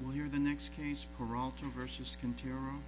We'll hear the next case, Peralta v. Quintero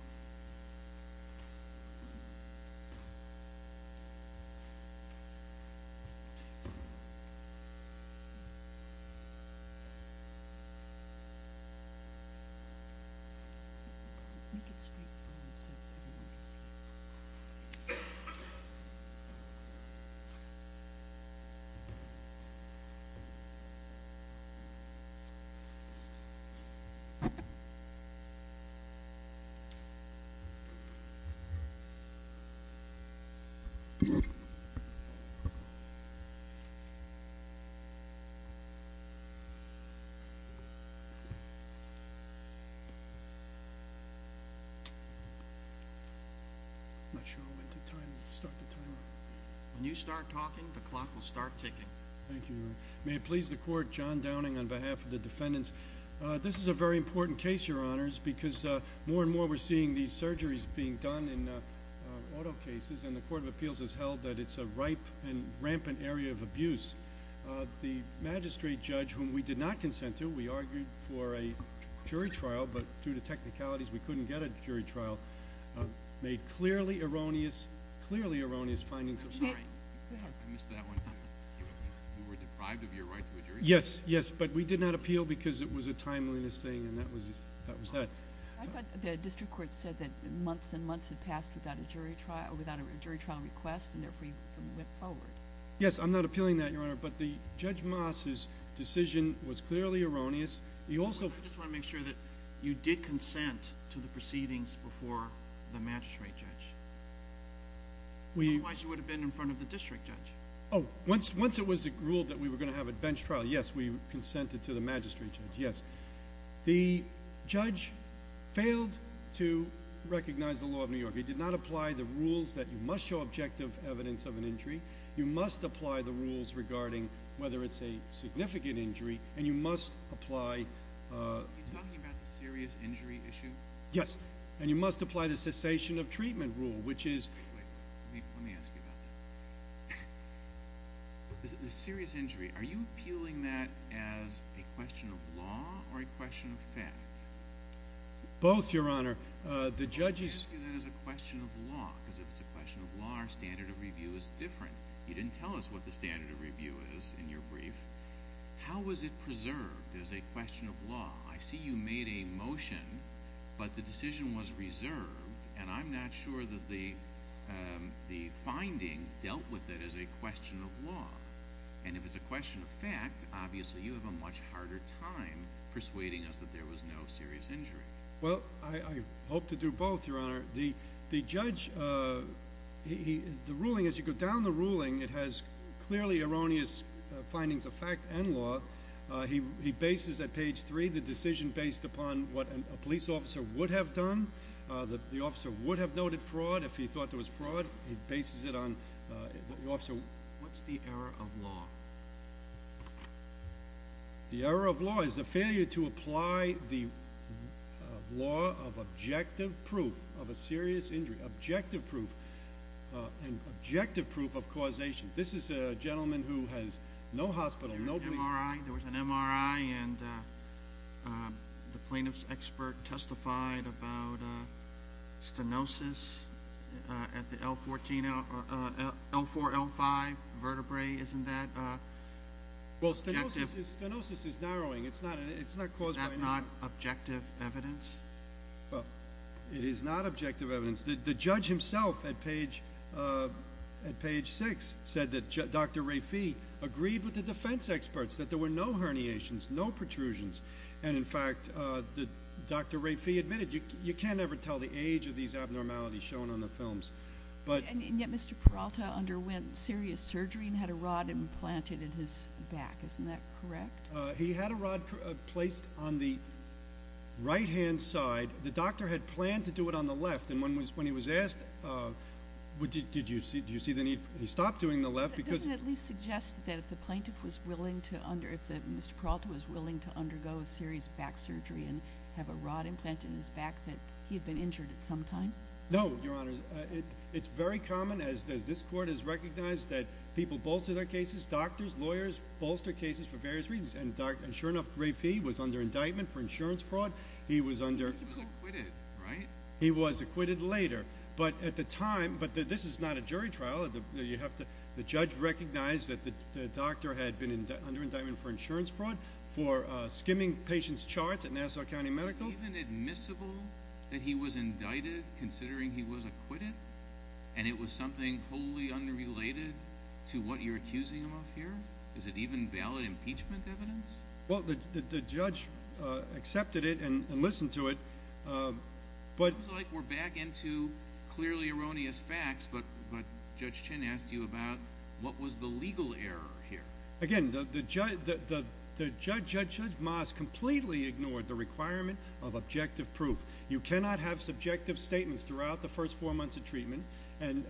When you start talking, the clock will start ticking. Thank you. May it please the Court, John Downing on behalf of the defendants. This is a very important case, Your Honors, because more and more we're seeing these surgeries being done in auto cases, and the Court of Appeals has held that it's a ripe and rampant area of abuse. The magistrate judge, whom we did not consent to, we argued for a jury trial, but due to technicalities we couldn't get a jury trial, made clearly erroneous, clearly erroneous I'm sorry, I missed that one too. You were deprived of your right to a jury trial? Yes, yes, but we did not appeal because it was a timeliness thing, and that was that. I thought the district court said that months and months had passed without a jury trial request, and therefore you went forward. Yes, I'm not appealing that, Your Honor, but Judge Moss's decision was clearly erroneous. I just want to make sure that you did consent to the proceedings before the magistrate judge. Otherwise you would have been in front of the district judge. Oh, once it was ruled that we were going to have a bench trial, yes, we consented to the magistrate judge, yes. The judge failed to recognize the law of New York. He did not apply the rules that you must show objective evidence of an injury, you must apply the rules regarding whether it's a significant injury, and you must apply Are you talking about the serious injury issue? Yes, and you must apply the cessation of treatment rule, which is Wait, let me ask you about that. The serious injury, are you appealing that as a question of law or a question of fact? Both, Your Honor. I'm going to ask you that as a question of law, because if it's a question of law, our standard of review is different. You didn't tell us what the standard of review is in your brief. How was it preserved as a question of law? I see you made a motion, but the decision was reserved, and I'm not sure that the findings dealt with it as a question of law. And if it's a question of fact, obviously you have a much harder time persuading us that there was no serious injury. Well, I hope to do both, Your Honor. The judge, the ruling, as you go down the ruling, it has clearly erroneous findings of fact and law. He bases at page 3 the decision based upon what a police officer would have done, that the officer would have noted fraud if he thought there was fraud. He bases it on the officer. What's the error of law? The error of law is the failure to apply the law of objective proof of a serious injury, objective proof, and objective proof of causation. This is a gentleman who has no hospital. MRI. There was an MRI, and the plaintiff's expert testified about stenosis at the L4, L5 vertebrae. Isn't that objective? Well, stenosis is narrowing. Is that not objective evidence? It is not objective evidence. The judge himself at page 6 said that Dr. Rafi agreed with the defense experts that there were no herniations, no protrusions. And, in fact, Dr. Rafi admitted you can't ever tell the age of these abnormalities shown on the films. And yet Mr. Peralta underwent serious surgery and had a rod implanted in his back. Isn't that correct? He had a rod placed on the right-hand side. The doctor had planned to do it on the left, and when he was asked, did you see the need for it, he stopped doing the left because Does it at least suggest that if the plaintiff was willing to undergo, if Mr. Peralta was willing to undergo a serious back surgery and have a rod implanted in his back, that he had been injured at some time? No, Your Honor. It's very common, as this court has recognized, that people bolster their cases. Doctors, lawyers bolster cases for various reasons. And sure enough, Rafi was under indictment for insurance fraud. He was under He was acquitted, right? He was acquitted later. But at the time, but this is not a jury trial. The judge recognized that the doctor had been under indictment for insurance fraud for skimming patients' charts at Nassau County Medical. Is it even admissible that he was indicted considering he was acquitted? And it was something wholly unrelated to what you're accusing him of here? Is it even valid impeachment evidence? Well, the judge accepted it and listened to it, but It sounds like we're back into clearly erroneous facts, but Judge Chin asked you about what was the legal error here. Again, Judge Moss completely ignored the requirement of objective proof. You cannot have subjective statements throughout the first four months of treatment and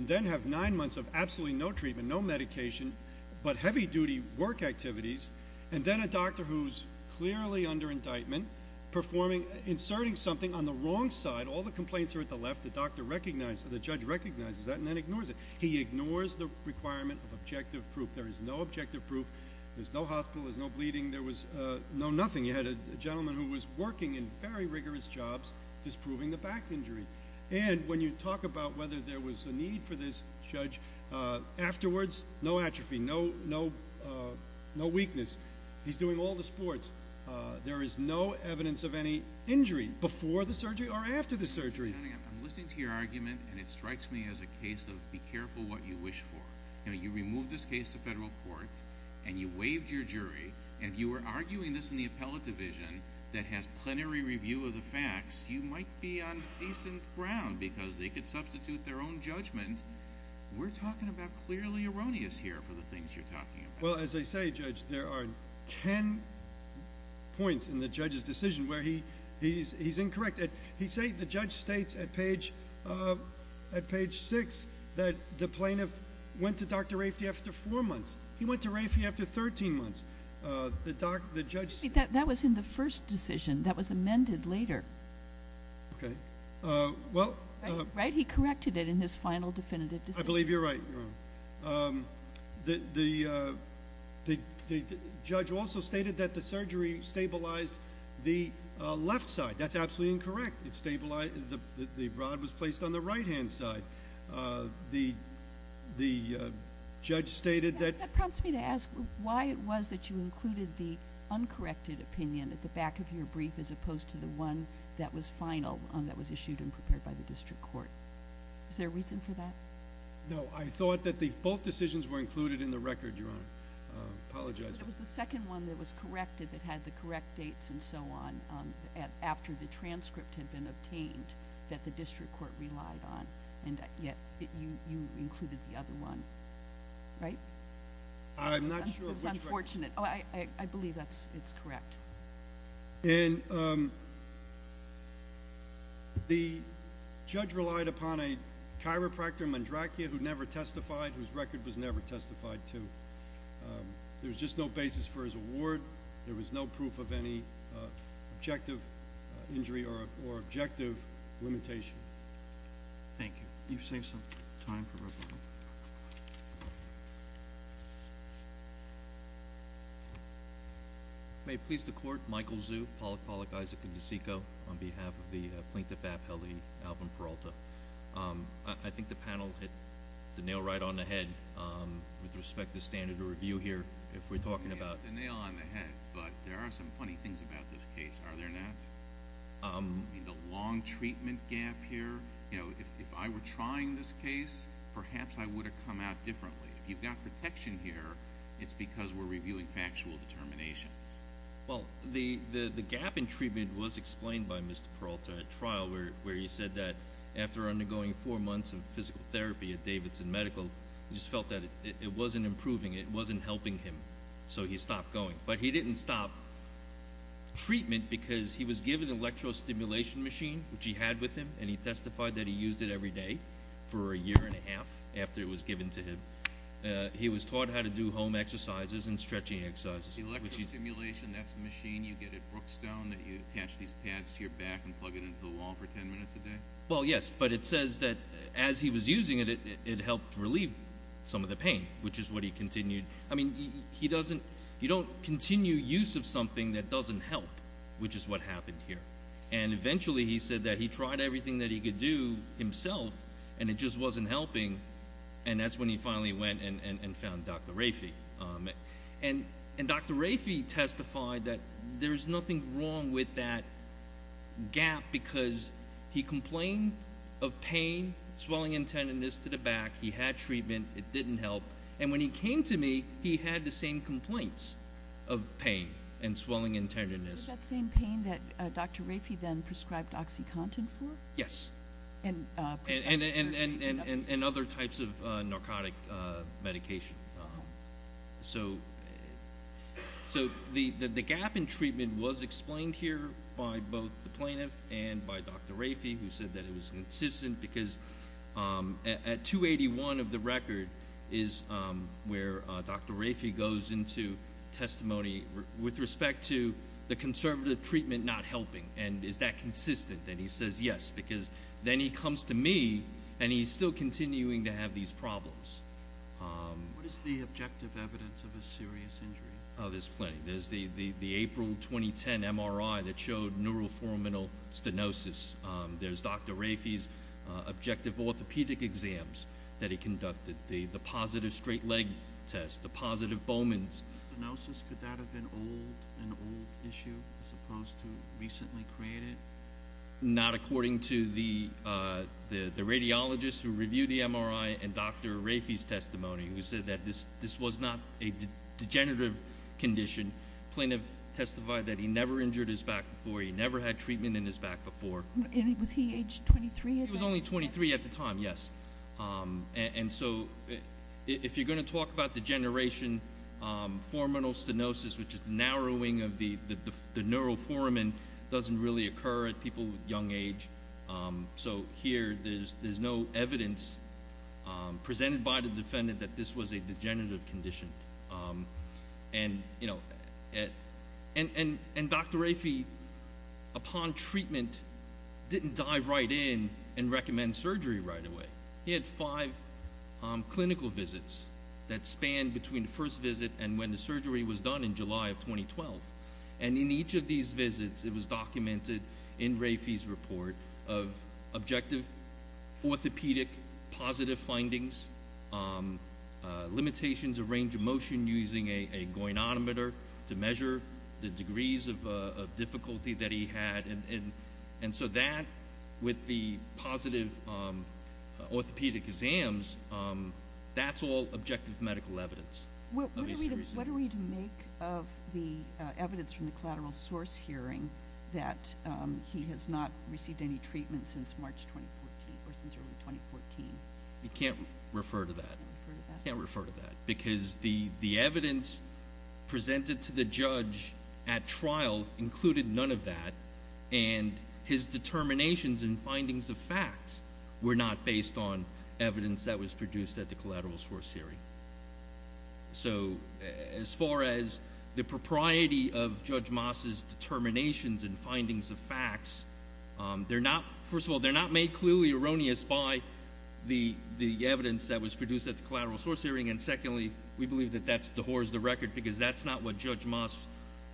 then have nine months of absolutely no treatment, no medication, but heavy-duty work activities. And then a doctor who's clearly under indictment performing, inserting something on the wrong side. All the complaints are at the left. The doctor recognized, the judge recognizes that and then ignores it. He ignores the requirement of objective proof. There is no objective proof. There's no hospital. There's no bleeding. There was no nothing. You had a gentleman who was working in very rigorous jobs, disproving the back injury. And when you talk about whether there was a need for this judge afterwards, no atrophy, no weakness. He's doing all the sports. There is no evidence of any injury before the surgery or after the surgery. I'm listening to your argument, and it strikes me as a case of be careful what you wish for. You removed this case to federal court, and you waived your jury, and you were arguing this in the appellate division that has plenary review of the facts. You might be on decent ground because they could substitute their own judgment. We're talking about clearly erroneous here for the things you're talking about. Well, as I say, Judge, there are ten points in the judge's decision where he's incorrect. He said the judge states at page 6 that the plaintiff went to Dr. Raife after four months. He went to Raife after 13 months. That was in the first decision. That was amended later. Okay. Right? He corrected it in his final definitive decision. I believe you're right, Your Honor. The judge also stated that the surgery stabilized the left side. That's absolutely incorrect. The rod was placed on the right-hand side. The judge stated that. That prompts me to ask why it was that you included the uncorrected opinion at the back of your brief as opposed to the one that was final, that was issued and prepared by the district court. Is there a reason for that? No. I thought that both decisions were included in the record, Your Honor. I apologize. It was the second one that was corrected that had the correct dates and so on after the transcript had been obtained that the district court relied on, and yet you included the other one, right? I'm not sure which one. It was unfortunate. I believe it's correct. And the judge relied upon a chiropractor, Mandrakia, who never testified, whose record was never testified to. There was just no basis for his award. There was no proof of any objective injury or objective limitation. Thank you. You've saved some time for rebuttal. May it please the Court, Michael Zhu, Pollock, Pollock, Isaac, and DeCicco, on behalf of the Plaintiff Appellee, Alvin Peralta. I think the panel hit the nail right on the head with respect to standard of review here. If we're talking about... You hit the nail on the head, but there are some funny things about this case, are there not? I mean, the long treatment gap here. If I were trying this case, perhaps I would have come out differently. If you've got protection here, it's because we're reviewing factual determinations. Well, the gap in treatment was explained by Mr. Peralta at trial, where he said that after undergoing four months of physical therapy at Davidson Medical, he just felt that it wasn't improving, it wasn't helping him, so he stopped going. But he didn't stop treatment because he was given an electrostimulation machine, which he had with him, and he testified that he used it every day for a year and a half, after it was given to him. He was taught how to do home exercises and stretching exercises. Electrostimulation, that's the machine you get at Brookstone that you attach these pads to your back and plug it into the wall for 10 minutes a day? Well, yes, but it says that as he was using it, it helped relieve some of the pain, which is what he continued... I mean, you don't continue use of something that doesn't help, which is what happened here. And eventually he said that he tried everything that he could do himself, and it just wasn't helping, and that's when he finally went and found Dr. Rafey. And Dr. Rafey testified that there's nothing wrong with that gap because he complained of pain, swelling and tenderness to the back. He had treatment. It didn't help. And when he came to me, he had the same complaints of pain and swelling and tenderness. Was it that same pain that Dr. Rafey then prescribed OxyContin for? Yes, and other types of narcotic medication. So the gap in treatment was explained here by both the plaintiff and by Dr. Rafey, who said that it was consistent because at 281 of the record is where Dr. Rafey goes into testimony with respect to the conservative treatment not helping. And is that consistent? And he says yes because then he comes to me, and he's still continuing to have these problems. What is the objective evidence of a serious injury? There's plenty. There's the April 2010 MRI that showed neuroforminal stenosis. There's Dr. Rafey's objective orthopedic exams that he conducted, the positive straight leg test, the positive Bowman's. Could that have been an old issue as opposed to recently created? Not according to the radiologist who reviewed the MRI and Dr. Rafey's testimony, who said that this was not a degenerative condition. The plaintiff testified that he never injured his back before. He never had treatment in his back before. And was he age 23? He was only 23 at the time, yes. And so if you're going to talk about degeneration, forminal stenosis, which is the narrowing of the neuroformin, doesn't really occur at people with young age. So here there's no evidence presented by the defendant that this was a degenerative condition. And Dr. Rafey, upon treatment, didn't dive right in and recommend surgery right away. He had five clinical visits that spanned between the first visit and when the surgery was done in July of 2012. And in each of these visits it was documented in Rafey's report of objective orthopedic positive findings, limitations of range of motion using a goianometer to measure the degrees of difficulty that he had. And so that, with the positive orthopedic exams, that's all objective medical evidence. What are we to make of the evidence from the collateral source hearing that he has not received any treatment since March 2014 or since early 2014? You can't refer to that. Can't refer to that. Because the evidence presented to the judge at trial included none of that, and his determinations and findings of facts were not based on evidence that was produced at the collateral source hearing. So as far as the propriety of Judge Moss's determinations and findings of facts, first of all, they're not made clearly erroneous by the evidence that was produced at the collateral source hearing, and secondly, we believe that that's the whore's of the record because that's not what Judge Moss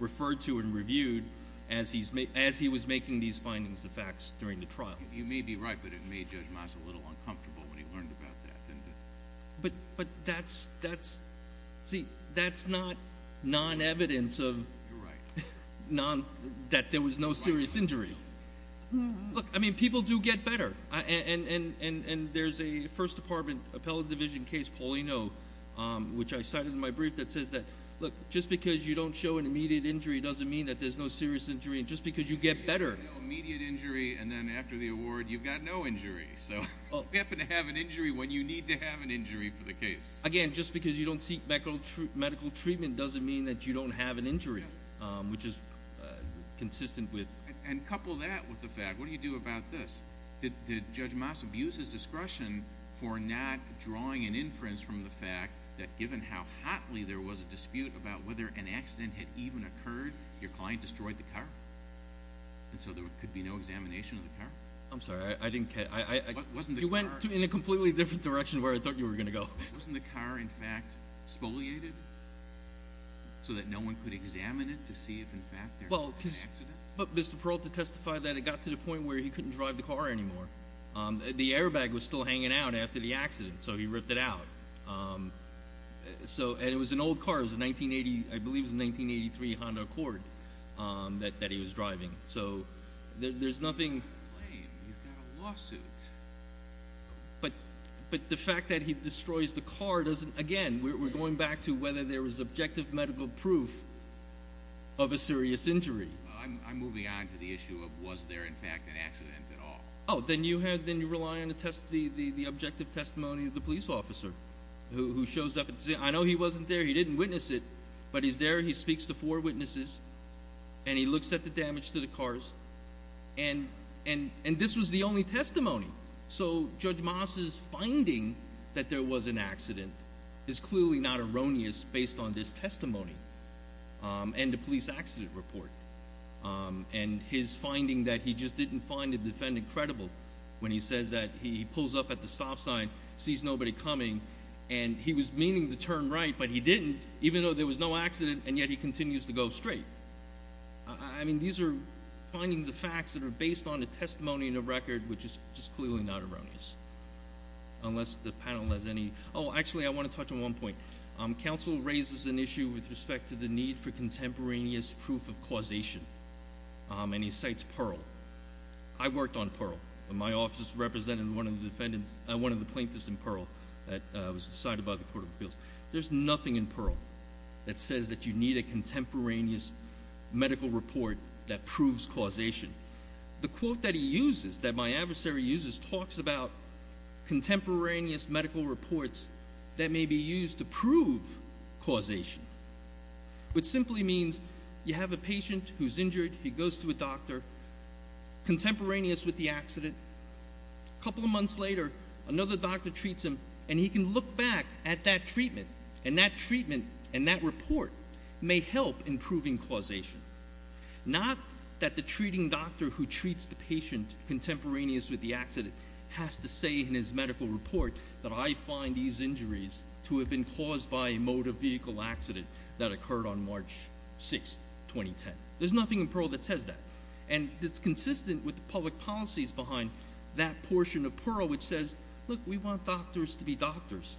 referred to and reviewed as he was making these findings of facts during the trials. You may be right, but it made Judge Moss a little uncomfortable when he learned about that. But that's not non-evidence that there was no serious injury. Look, I mean, people do get better. And there's a First Department appellate division case, Paulino, which I cited in my brief that says that, look, just because you don't show an immediate injury doesn't mean that there's no serious injury, and just because you get better. No immediate injury, and then after the award you've got no injury. So you happen to have an injury when you need to have an injury for the case. Again, just because you don't seek medical treatment doesn't mean that you don't have an injury, which is consistent with. And couple that with the fact, what do you do about this? Did Judge Moss abuse his discretion for not drawing an inference from the fact that, given how hotly there was a dispute about whether an accident had even occurred, your client destroyed the car? And so there could be no examination of the car? I'm sorry, I didn't catch that. You went in a completely different direction of where I thought you were going to go. Wasn't the car, in fact, spoliated so that no one could examine it to see if, in fact, there was an accident? Well, Mr. Peralta testified that it got to the point where he couldn't drive the car anymore. The airbag was still hanging out after the accident, so he ripped it out. And it was an old car. It was a 1980, I believe it was a 1983 Honda Accord that he was driving. So there's nothing- He's got a lawsuit. But the fact that he destroys the car doesn't, again, we're going back to whether there was objective medical proof of a serious injury. I'm moving on to the issue of was there, in fact, an accident at all? Oh, then you rely on the objective testimony of the police officer who shows up and says, I know he wasn't there, he didn't witness it, but he's there, he speaks to four witnesses, and he looks at the damage to the cars. And this was the only testimony. So Judge Moss's finding that there was an accident is clearly not erroneous based on this testimony and the police accident report. And his finding that he just didn't find the defendant credible when he says that he pulls up at the stop sign, sees nobody coming, and he was meaning to turn right, but he didn't, even though there was no accident, and yet he continues to go straight. I mean, these are findings of facts that are based on a testimony and a record, which is just clearly not erroneous, unless the panel has any. Oh, actually, I want to touch on one point. Counsel raises an issue with respect to the need for contemporaneous proof of causation, and he cites Pearl. I worked on Pearl. My office represented one of the plaintiffs in Pearl that was decided by the Court of Appeals. There's nothing in Pearl that says that you need a contemporaneous medical report that proves causation. The quote that he uses, that my adversary uses, talks about contemporaneous medical reports that may be used to prove causation, which simply means you have a patient who's injured. He goes to a doctor contemporaneous with the accident. A couple of months later, another doctor treats him, and he can look back at that treatment, and that treatment and that report may help in proving causation. Not that the treating doctor who treats the patient contemporaneous with the accident has to say in his medical report that I find these injuries to have been caused by a motor vehicle accident that occurred on March 6, 2010. There's nothing in Pearl that says that. And it's consistent with the public policies behind that portion of Pearl which says, look, we want doctors to be doctors.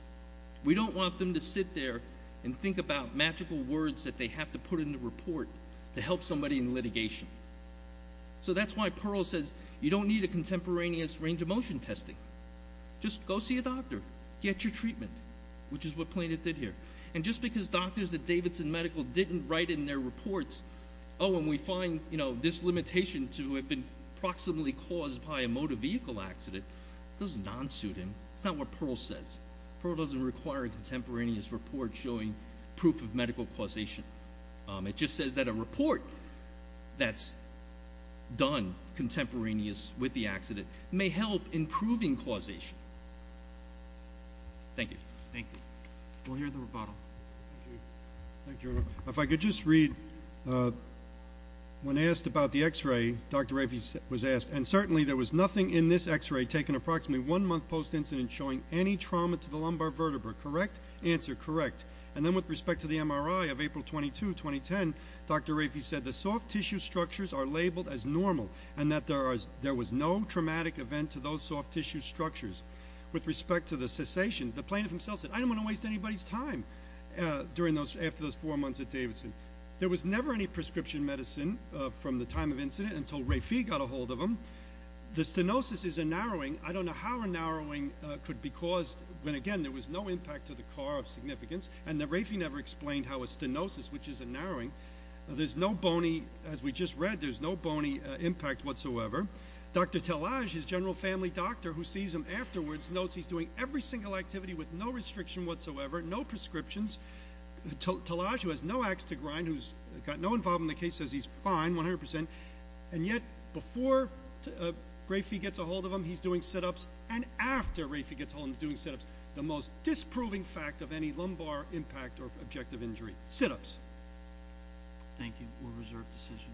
We don't want them to sit there and think about magical words that they have to put in the report to help somebody in litigation. So that's why Pearl says you don't need a contemporaneous range of motion testing. Just go see a doctor. Get your treatment, which is what plaintiff did here. And just because doctors at Davidson Medical didn't write in their reports, oh, and we find this limitation to have been proximately caused by a motor vehicle accident, doesn't non-suit him. That's not what Pearl says. Pearl doesn't require a contemporaneous report showing proof of medical causation. It just says that a report that's done contemporaneous with the accident may help in proving causation. Thank you. Thank you. We'll hear the rebuttal. Thank you, Your Honor. If I could just read, when asked about the X-ray, Dr. Raffey was asked, and certainly there was nothing in this X-ray taken approximately one month post-incident showing any trauma to the lumbar vertebra. Correct? Answer, correct. And then with respect to the MRI of April 22, 2010, Dr. Raffey said the soft tissue structures are labeled as normal and that there was no traumatic event to those soft tissue structures. With respect to the cessation, the plaintiff himself said, I don't want to waste anybody's time after those four months at Davidson. There was never any prescription medicine from the time of incident until Raffey got a hold of them. The stenosis is a narrowing. I don't know how a narrowing could be caused when, again, there was no impact to the car of significance, and Raffey never explained how a stenosis, which is a narrowing, there's no bony, as we just read, there's no bony impact whatsoever. However, Dr. Talaj, his general family doctor who sees him afterwards, notes he's doing every single activity with no restriction whatsoever, no prescriptions. Talaj, who has no ax to grind, who's got no involvement in the case, says he's fine, 100%. And yet before Raffey gets a hold of him, he's doing sit-ups, and after Raffey gets a hold of him, he's doing sit-ups, the most disproving fact of any lumbar impact or objective injury, sit-ups. Thank you. We'll reserve decision.